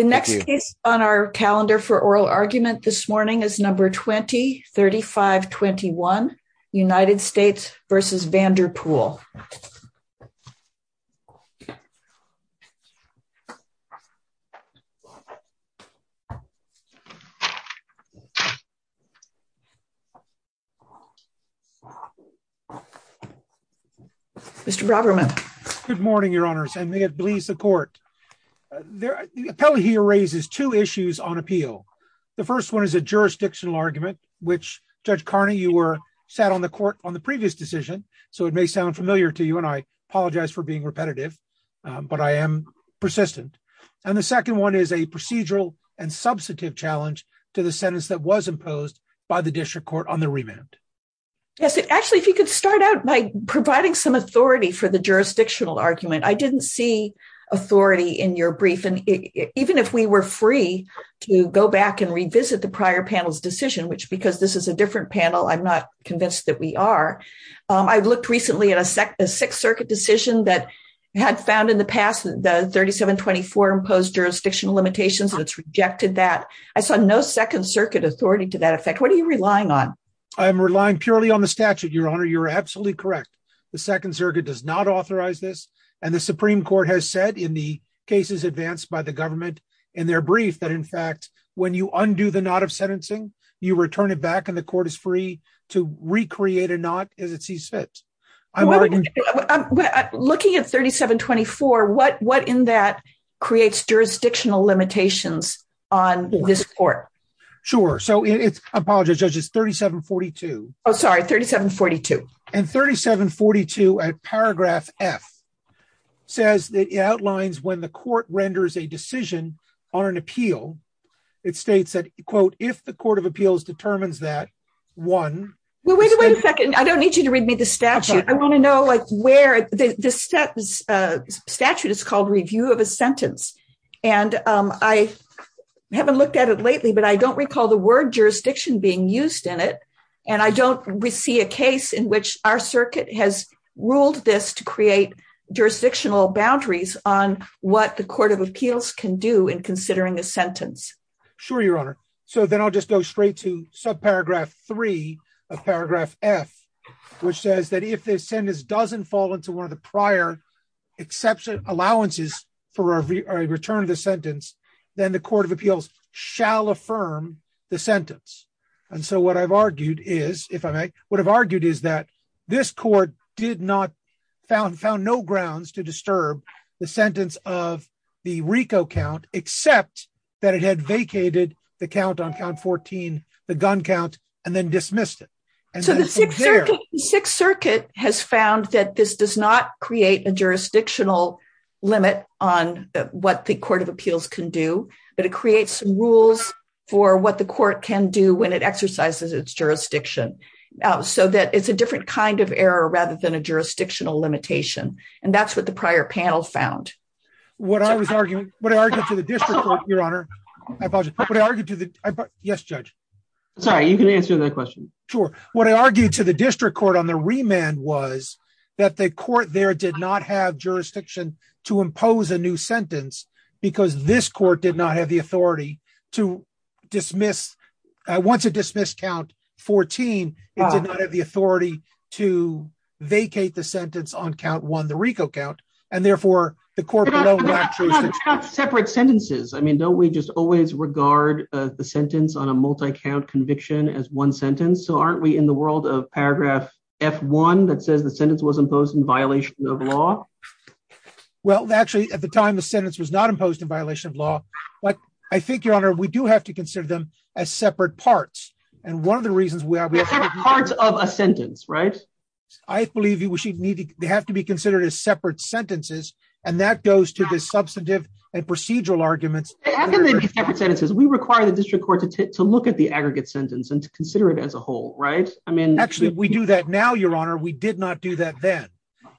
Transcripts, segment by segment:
The next case on our calendar for oral argument this morning is number 203521 United States versus Vanderpool. Mr. Roberman. Good morning, your honors, and may it please the court. The appellate here raises two issues on appeal. The first one is a jurisdictional argument, which Judge Carney you were sat on the court on the previous decision, so it may sound familiar to you and I apologize for being repetitive, but I am persistent. And the second one is a procedural and substantive challenge to the sentence that was imposed by the district court on the remand. Actually, if you could start out by providing some authority for the jurisdictional argument I didn't see authority in your brief and even if we were free to go back and revisit the prior panels decision which because this is a different panel I'm not convinced that we are. I've looked recently at a SEC the Sixth Circuit decision that had found in the past, the 3724 imposed jurisdictional limitations and it's rejected that I saw no Second Circuit authority to that effect. What are you relying on. I'm relying purely on the statute your honor you're absolutely correct. The Second Circuit does not authorize this, and the Supreme Court has said in the cases advanced by the government, and their brief that in fact, when you undo the knot of sentencing, you return it back and the court is free to recreate a not as it sees fit. I'm looking at 3724 what what in that creates jurisdictional limitations on this court. Sure, so it's apologies judges 3742. Oh sorry 3742 and 3742 at paragraph F says that outlines when the court renders a decision on an appeal. It states that, quote, if the Court of Appeals determines that one. Well, wait a second, I don't need you to read me the statute, I want to know like where the status statute is called review of a sentence, and I haven't looked at it lately but I don't recall the word jurisdiction being used in it. And I don't see a case in which our circuit has ruled this to create jurisdictional boundaries on what the Court of Appeals can do in considering a sentence. Sure, Your Honor. So then I'll just go straight to sub paragraph three of paragraph F, which says that if they send this doesn't fall into one of the prior exception allowances for a return of the sentence, then the Court of Appeals shall affirm the sentence. And so what I've argued is, if I might, what I've argued is that this court did not found found no grounds to disturb the sentence of the Rico count, except that it had vacated the count on count 14, the gun count, and then dismissed it. Sixth Circuit has found that this does not create a jurisdictional limit on what the Court of Appeals can do, but it creates rules for what the court can do when it exercises its jurisdiction, so that it's a different kind of error rather than a jurisdictional limitation. And that's what the prior panel found what I was arguing, what I argued to the district, Your Honor. Yes, Judge. Sorry, you can answer that question. Sure. What I argued to the district court on the remand was that the court there did not have jurisdiction to impose a new sentence, because this court did not have the authority to dismiss. Once it dismissed count 14, it did not have the authority to vacate the sentence on count one the Rico count, and therefore, the court. Separate sentences I mean don't we just always regard the sentence on a multi count conviction as one sentence so aren't we in the world of paragraph F one that says the sentence was imposed in violation of law. Well, actually, at the time the sentence was not imposed in violation of law, but I think your honor we do have to consider them as separate parts. And one of the reasons we have parts of a sentence right. I believe you should need to have to be considered as separate sentences, and that goes to the substantive and procedural arguments sentences we require the district court to look at the aggregate sentence and to consider it as a whole, right, I mean actually we do that now your honor we did not do that then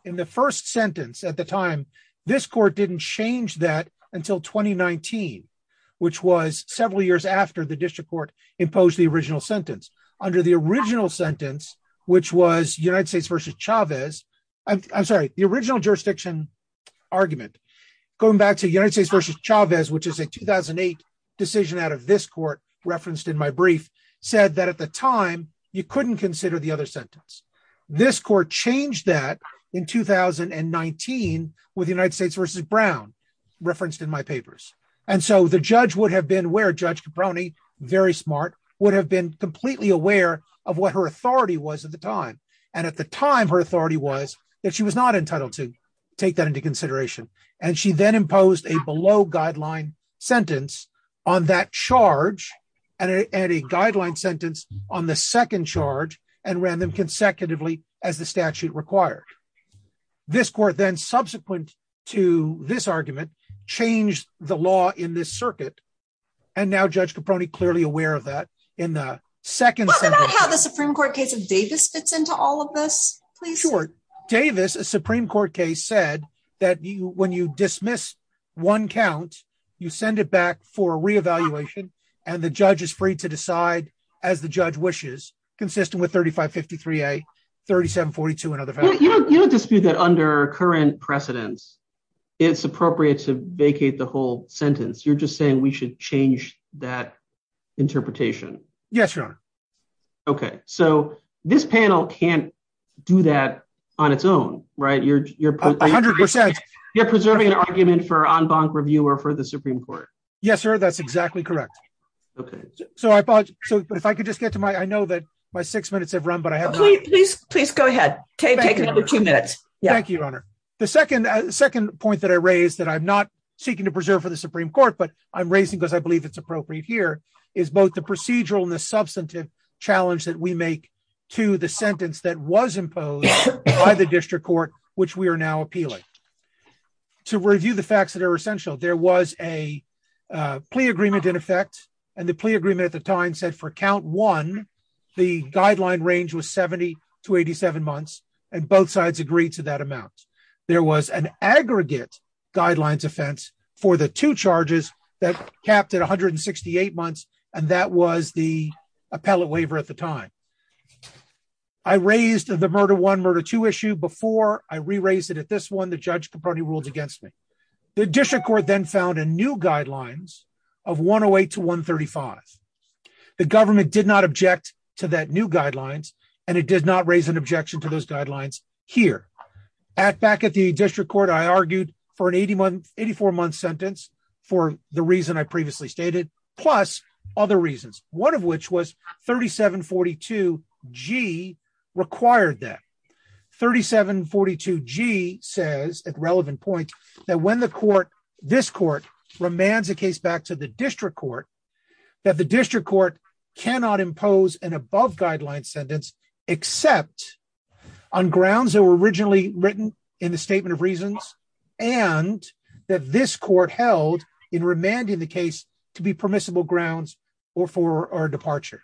in the first sentence at the time, this court didn't change that until 2019, which was several years after the district court imposed the original sentence under the original sentence, which was This court changed that in 2019 with the United States versus Brown referenced in my papers. And so the judge would have been where judge brownie very smart would have been completely aware of what her authority was at the time. And at the time her authority was that she was not entitled to take that into consideration, and she then imposed a below guideline sentence on that charge, and a guideline sentence on the second charge and random consecutively, as the statute required. This court then subsequent to this argument, change the law in this circuit. And now judge Caproni clearly aware of that in the second Supreme Court case of Davis fits into all of this, please short Davis a Supreme Court case said that you when you dismiss one count, you send it back for reevaluation, and the judge is free to decide as the You don't dispute that under current precedents, it's appropriate to vacate the whole sentence you're just saying we should change that interpretation. Yes, sure. Okay, so this panel can do that on its own right you're you're 100% you're preserving an argument for on bonk review or for the Supreme Court. Yes, sir. That's exactly correct. Okay, so I bought. So, if I could just get to my I know that my six minutes have run but I have, please, please go ahead. Okay, take another two minutes. Yeah, thank you. The second, second point that I raised that I'm not seeking to preserve for the Supreme Court but I'm raising because I believe it's appropriate here is both the procedural and the substantive challenge that we make to the sentence that was imposed by the district court, which we are now appealing to review the facts that are essential there was a plea agreement in effect. And the plea agreement at the time said for count one, the guideline range was 70 to 87 months, and both sides agreed to that amount. There was an aggregate guidelines offense for the two charges that capped at 168 months, and that was the appellate waiver at the time. I raised the murder one murder to issue before I re raised it at this one the judge company rules against me. The district court then found a new guidelines of 108 to 135, the government did not object to that new guidelines, and it did not raise an objection to those guidelines here at back at the district court I argued for an 8184 month sentence for the reason I previously stated, plus other reasons, one of which was 3742 g required that 3742 g says at relevant point that when the court. This court romance a case back to the district court that the district court, cannot impose an above guideline sentence, except on grounds that were originally written in the statement of reasons, and that this court held in remanding the case to be permissible grounds, or for our departure.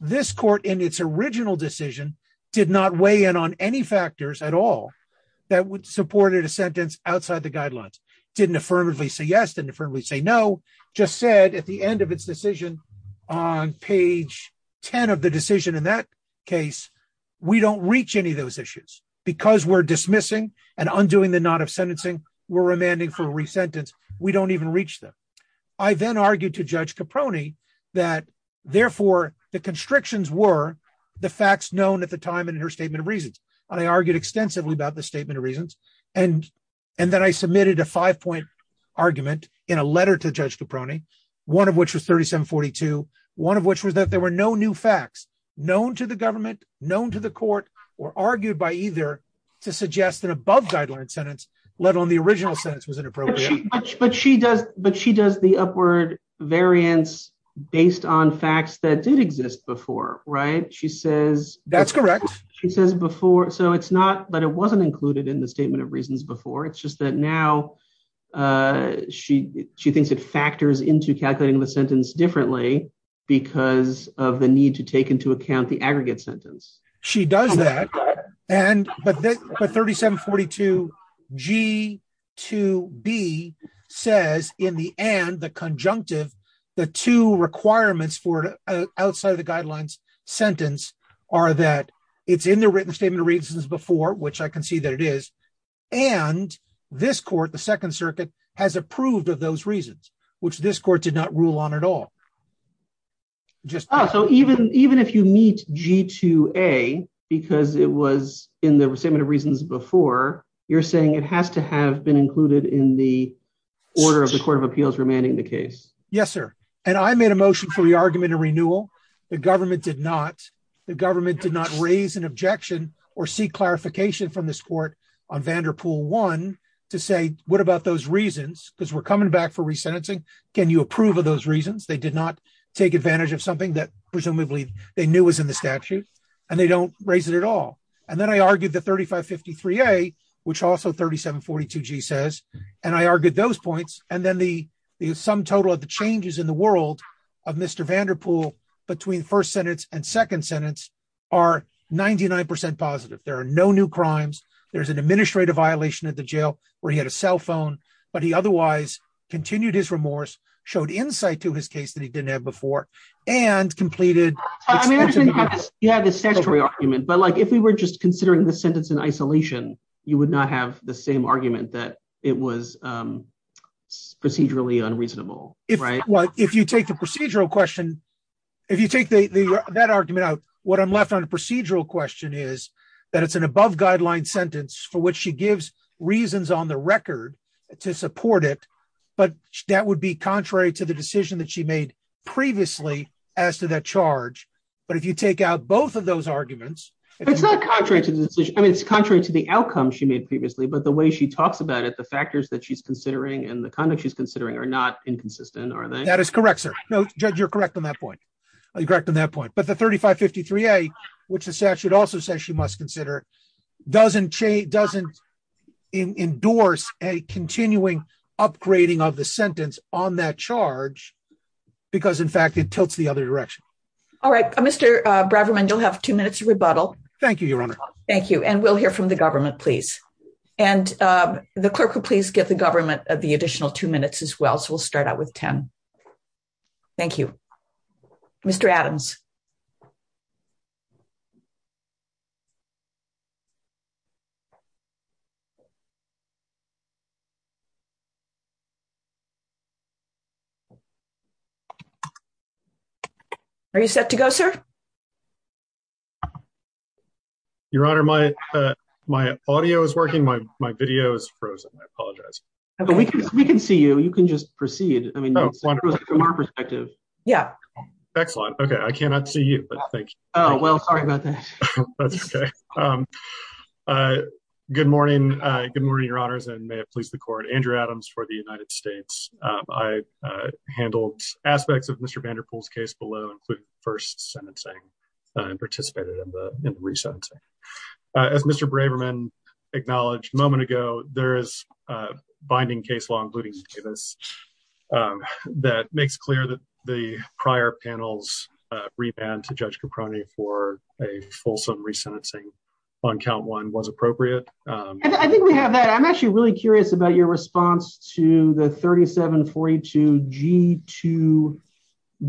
This court in its original decision did not weigh in on any factors at all. That would support it a sentence outside the guidelines didn't affirmatively say yes to differently say no, just said at the end of its decision on page 10 of the decision in that case, we that, therefore, the constrictions were the facts known at the time and her statement of reasons, and I argued extensively about the statement of reasons, and, and then I submitted a five point argument in a letter to judge the pruning, one of which was 3742, one of which was 3742 g. And she says that the statement of reasons, doesn't include variance based on facts that did exist before right she says, that's correct, she says before so it's not but it wasn't included in the statement of reasons before it's just that now. She, she thinks it factors into calculating the sentence differently because of the need to take into account the aggregate sentence. She does that. And, but the 3742 g to be says, in the end the conjunctive. The two requirements for outside the guidelines sentence, or that it's in the written statement reasons before which I can see that it is. And this court the Second Circuit has approved of those reasons, which this court did not rule on at all. So even, even if you meet g to a, because it was in the same reasons before you're saying it has to have been included in the order of the Court of Appeals remaining the case. Yes, sir. And I made a motion for the argument and renewal, the government did not the government did not raise an objection or see clarification from the sport on Vanderpool one to say, what about those reasons, because we're coming back for resentencing. Can you approve of those reasons they did not take advantage of something that presumably they knew was in the statute, and they don't raise it at all. And then I argued the 3553 a, which also 3742 g says, and I argued those points, and then the, the sum otherwise continued his remorse showed insight to his case that he didn't have before, and completed. Yeah, the statutory argument but like if we were just considering the sentence in isolation, you would not have the same argument that it was procedurally unreasonable. Right. Well, if you take the procedural question. If you take the that argument out what I'm left on a procedural question is that it's an above guideline sentence for which she gives reasons on the record to support it, but that would be contrary to the decision that she made previously, as to that charge. But if you take out both of those arguments, it's not contrary to the decision, it's contrary to the outcome she made previously but the way she talks about it the factors that she's considering and the conduct she's considering are not inconsistent or that is correct answer. No, you're correct on that point, correct on that point but the 3553 a, which the statute also says she must consider doesn't change doesn't endorse a continuing upgrading of the sentence on that charge, because in fact it tilts the other direction. All right, Mr. Braverman you'll have two minutes rebuttal. Thank you your honor. Thank you and we'll hear from the government please. And the clerk will please get the government of the additional two minutes as well so we'll start out with 10. Thank you, Mr Adams. Are you set to go, sir. Your Honor, my, my audio is working my, my videos frozen I apologize. We can see you, you can just proceed. I mean, from our perspective. Yeah. Excellent. Okay, I cannot see you, but thank you. Oh well sorry about that. That's okay. Good morning. Good morning, your honors and may it please the court Andrew Adams for the United States. I handled aspects of Mr Vanderpool's case below include first sentencing and participated in the recent as Mr Braverman acknowledged moment ago, there is binding case law including Davis. That makes clear that the prior panels rebound to judge Caproni for a fulsome resentencing on count one was appropriate. I think we have that I'm actually really curious about your response to the 3742 g to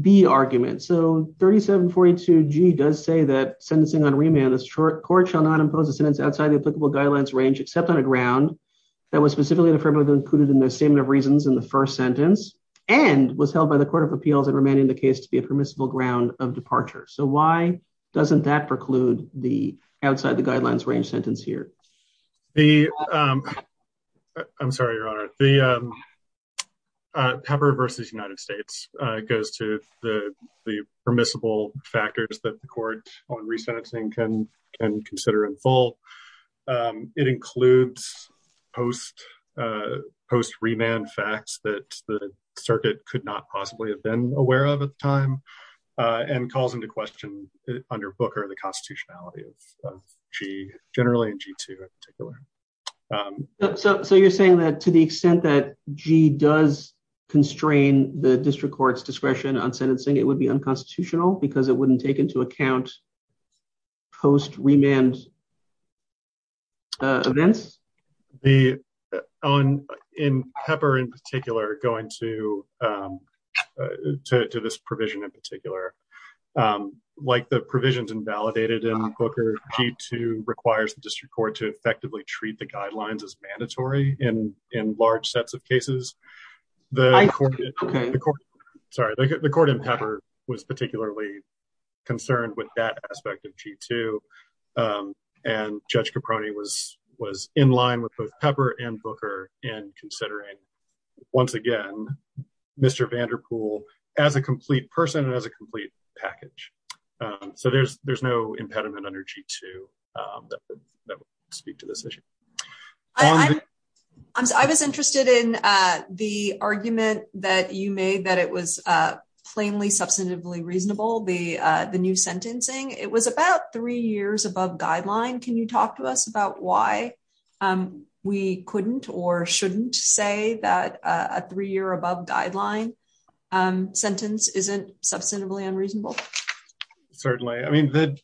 be argument so 3742 g does say that sentencing on remand is short court shall not impose a sentence outside the applicable guidelines range except on a ground that was the. I'm sorry your honor, the pepper versus United States goes to the permissible factors that the court on resentencing can can consider in full. It includes post post remand facts that the circuit could not possibly have been aware of at the time, and calls into question under book or the constitutionality of g generally g to particular. So you're saying that to the extent that g does constrain the district courts discretion on sentencing it would be unconstitutional because it wouldn't take into account post remand events, the own in pepper in particular going to to this provision in particular, like the the court in pepper was particularly concerned with that aspect of g to. And judge Caproni was was in line with both pepper and booker in considering. Once again, Mr Vanderpool, as a complete person as a complete package. So there's, there's no impediment energy to that. I was interested in the argument that you made that it was plainly substantively reasonable the, the new sentencing, it was about three years above guideline Can you talk to us about why we couldn't or shouldn't say that a three year above guideline sentence isn't substantively unreasonable. Certainly, I mean that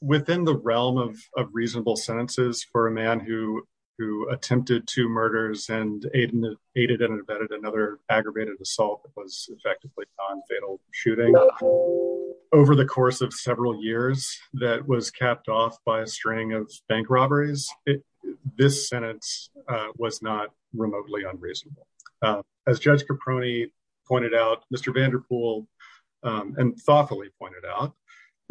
within the realm of reasonable sentences for a man who who attempted to murders and aided and abetted another aggravated assault was effectively on fatal shooting over the course of several years, that was capped off by a string of bank robberies. This sentence was not remotely unreasonable. As Judge Caproni pointed out, Mr Vanderpool and thoughtfully pointed out,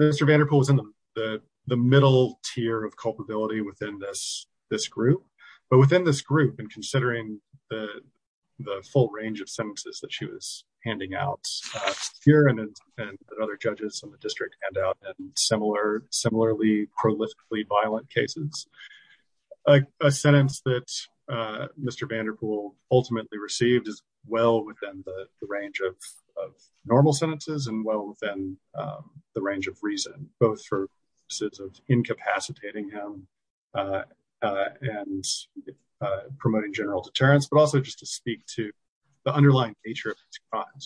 Mr Vanderpool was in the middle tier of culpability within this, this group, but within this group and considering the full range of sentences that she was handing out here and other judges in the district handout and similar similarly prolifically violent cases, a sentence that Mr Vanderpool ultimately received as well within the range of normal sentences and well within the range of reason, both for sits of incapacitating him and promoting general deterrence but also just to speak to the underlying nature.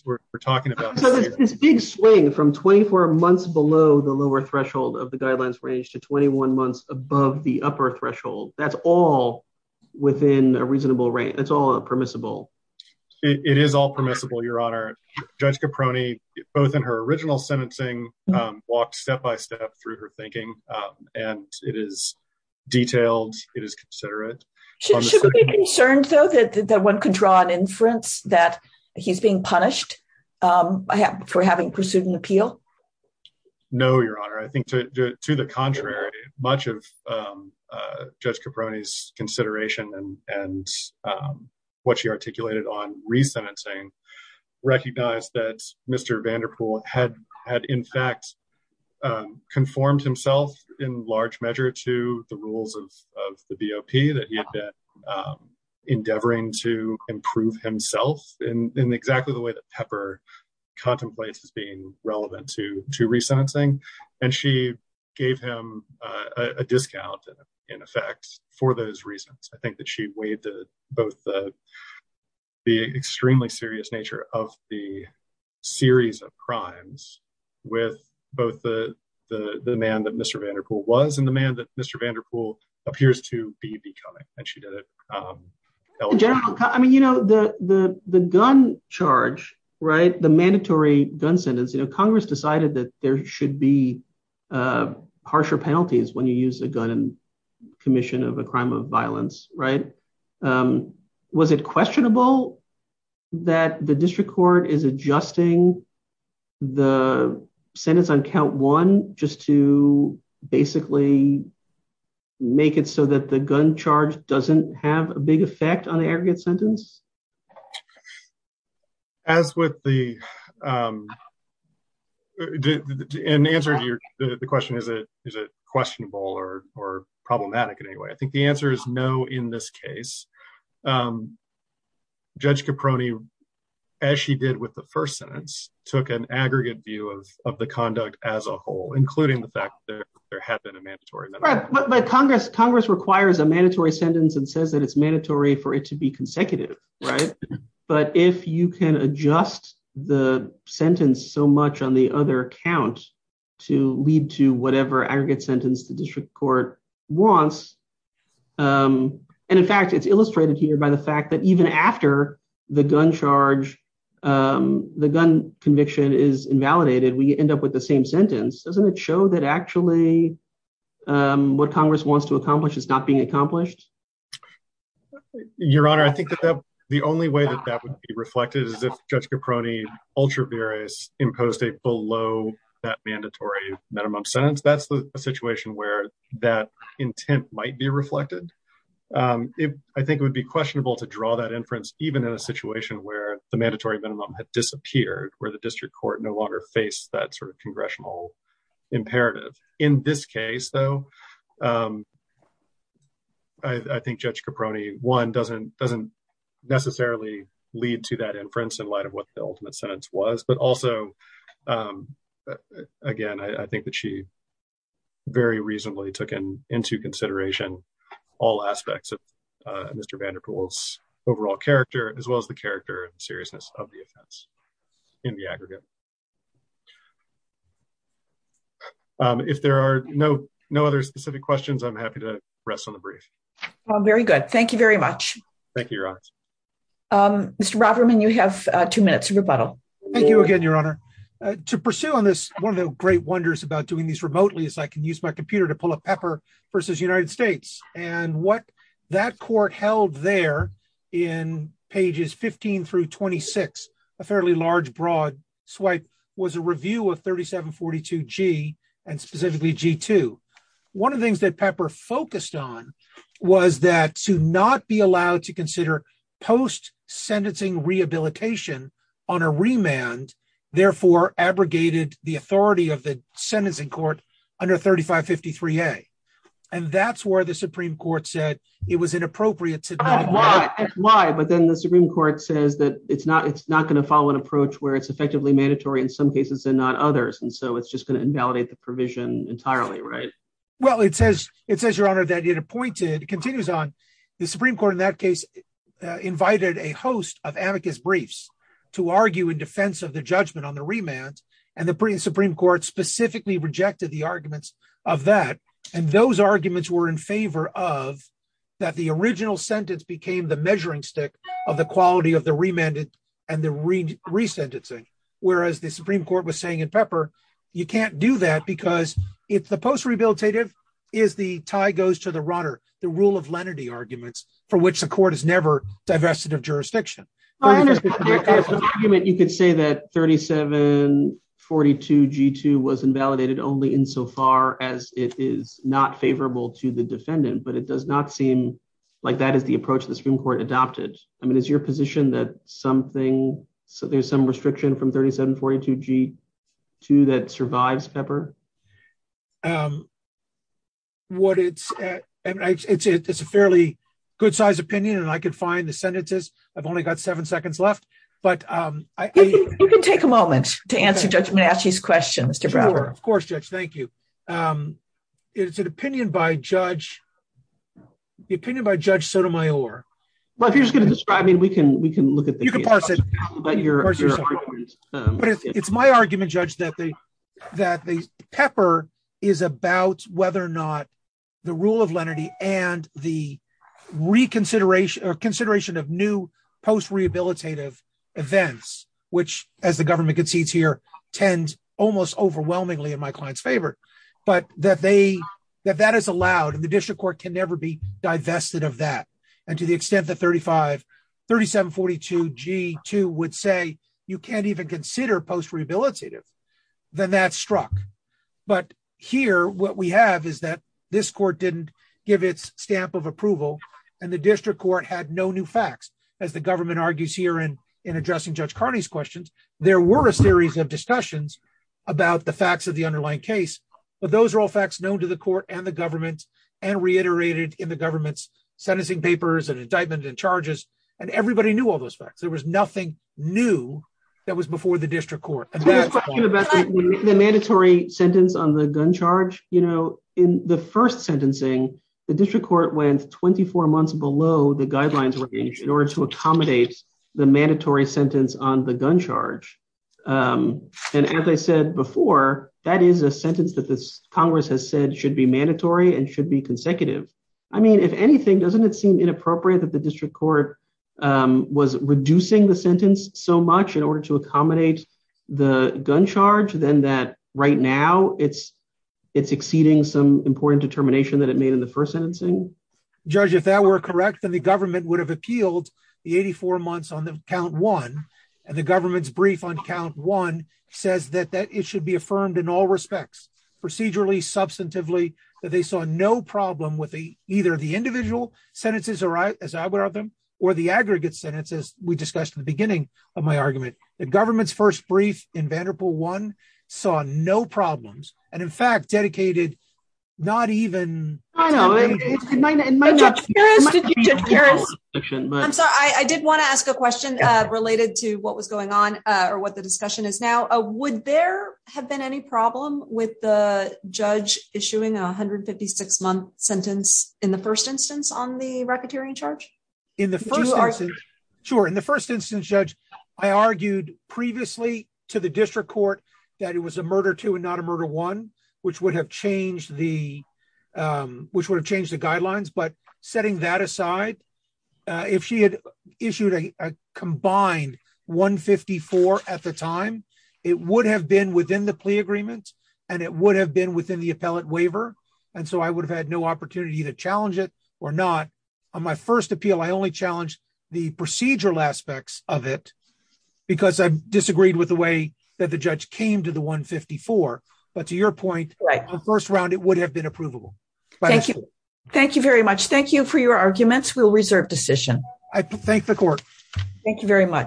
We're talking about this big swing from 24 months below the lower threshold of the guidelines range to 21 months above the upper threshold, that's all within a reasonable range, it's all permissible. It is all permissible Your Honor, Judge Caproni, both in her original sentencing walked step by step through her thinking, and it is detailed, it is considerate. Should we be concerned though that one can draw an inference that he's being punished for having pursued an appeal. No, Your Honor, I think, to the contrary, much of Judge Caproni's consideration and what she articulated on resentencing recognize that Mr Vanderpool had had in fact conformed himself in large measure to the rules of the VOP that he had been endeavoring to improve himself in exactly the way that Pepper contemplates as being relevant to to resentencing, and she gave him a discount, in effect, for those reasons I think that she weighed the both the extremely serious nature of the series of crimes with both the, the man that Mr Vanderpool was and the man that Mr Vanderpool appears to be becoming, and she did it. I mean you know the the gun charge right the mandatory gun sentence you know Congress decided that there should be harsher penalties when you use a gun and commission of a crime of violence, right. Was it questionable that the district court is adjusting the sentence on count one, just to basically make it so that the gun charge doesn't have a big effect on the aggregate sentence. As with the answer to your question is it is it questionable or or problematic in any way I think the answer is no. In this case, Judge Caproni, as she did with the first sentence, took an aggregate view of the conduct as a whole, including the fact that there had been a mandatory. Congress requires a mandatory sentence and says that it's mandatory for it to be consecutive. Right. But if you can adjust the sentence so much on the other count to lead to whatever aggregate sentence the district court wants. And in fact it's illustrated here by the fact that even after the gun charge, the gun conviction is invalidated we end up with the same sentence doesn't it show that actually what Congress wants to accomplish is not being accomplished. Your Honor, I think that the only way that that would be reflected is if Judge Caproni ultra various imposed a below that mandatory minimum sentence that's the situation where that intent might be reflected. If I think it would be questionable to draw that inference, even in a situation where the mandatory minimum had disappeared where the district court no longer face that sort of congressional imperative. In this case, though, I think Judge Caproni one doesn't doesn't necessarily lead to that inference in light of what the ultimate sentence was but also, Again, I think that she very reasonably took in into consideration all aspects of Mr Vanderpool's overall character, as well as the character and seriousness of the events in the aggregate. If there are no, no other specific questions I'm happy to rest on the brief. Very good. Thank you very much. Thank you. Mr Robberman you have two minutes rebuttal. Thank you again, Your Honor, to pursue on this one of the great wonders about doing these remotely as I can use my computer to pull a pepper versus United States, and what that court held there in pages 15 through 26, a fairly large broad swipe was a review of 3742 G, and specifically One of the things that pepper focused on was that to not be allowed to consider post sentencing rehabilitation on a remand, therefore abrogated the authority of the sentencing court under 3553 a. And that's where the Supreme Court said it was inappropriate to Why, but then the Supreme Court says that it's not it's not going to follow an approach where it's effectively mandatory in some cases and not others and so it's just going to invalidate the provision entirely right. Well, it says, it says, Your Honor, that it appointed continues on the Supreme Court in that case, invited a host of amicus briefs to argue in defense of the judgment on the remand, and the Supreme Court specifically rejected the arguments of that. And those arguments were in favor of that the original sentence became the measuring stick of the quality of the remanded and the read resentencing, whereas the Supreme Court was saying in pepper. You can't do that because it's the post rehabilitative is the tie goes to the runner, the rule of lenity arguments for which the court is never divested of jurisdiction. You could say that 3742 g2 was invalidated only in so far as it is not favorable to the defendant, but it does not seem like that is the approach the Supreme Court adopted. I mean, is your position that something so there's some restriction from 3742 g2 that survives pepper. What it's, it's a fairly good size opinion and I could find the sentences. I've only got seven seconds left, but I can take a moment to answer judgment ask these questions to brother, of course, just thank you. It's an opinion by judge opinion by Judge Sotomayor. Well if you're just going to describe me we can we can look at the comparison, but you're, it's my argument judge that the that the pepper is about whether or not the rule of lenity, and the reconsideration or consideration of new post rehabilitative events, which, as the government concedes here tends almost overwhelmingly in my clients favorite, but that they that that is allowed and the district court can never be divested of that. And to the extent that 35 3742 g2 would say, you can't even consider post rehabilitative, then that struck. But here what we have is that this court didn't give its stamp of approval, and the district court had no new facts, as the government argues here and in addressing judge Carney's questions. There were a series of discussions about the facts of the underlying case, but those are all facts known to the court and the government and reiterated in the government's sentencing papers and indictment and charges, and everybody knew all those facts there was nothing that was before the district court. The mandatory sentence on the gun charge, you know, in the first sentencing, the district court went 24 months below the guidelines in order to accommodate the mandatory sentence on the gun charge. And as I said before, that is a sentence that this Congress has said should be mandatory and should be consecutive. I mean if anything, doesn't it seem inappropriate that the district court was reducing the sentence so much in order to accommodate the gun charge to them that right now it's it's exceeding some important determination that it made in the first sentence. Judge if that were correct and the government would have appealed the 84 months on the count one, and the government's brief on count one says that that it should be affirmed in all respects procedurally substantively that they saw no problem with the either the individual sentences or as I would have them, or the aggregate sentences, we discussed in the beginning of my argument, the government's first brief in Vanderbilt one saw no problems, and in fact dedicated, not even in my section, but I did want to ask a question related to what was going on, or what the discussion is now a would there have been any problem with the judge issuing 156 month sentence in the first instance on the racketeering charge. Sure. In the first instance, Judge, I argued previously to the district court that it was a murder to and not a murder one, which would have changed the, which would have changed the guidelines but setting that aside. If she had issued a combined 154 at the time, it would have been within the plea agreement, and it would have been within the appellate waiver. And so I would have had no opportunity to challenge it or not. On my first appeal I only challenged the procedural aspects of it, because I disagreed with the way that the judge came to the 154. But to your point, first round it would have been approvable. Thank you. Thank you very much. Thank you for your arguments will reserve decision. I thank the court. Thank you very much.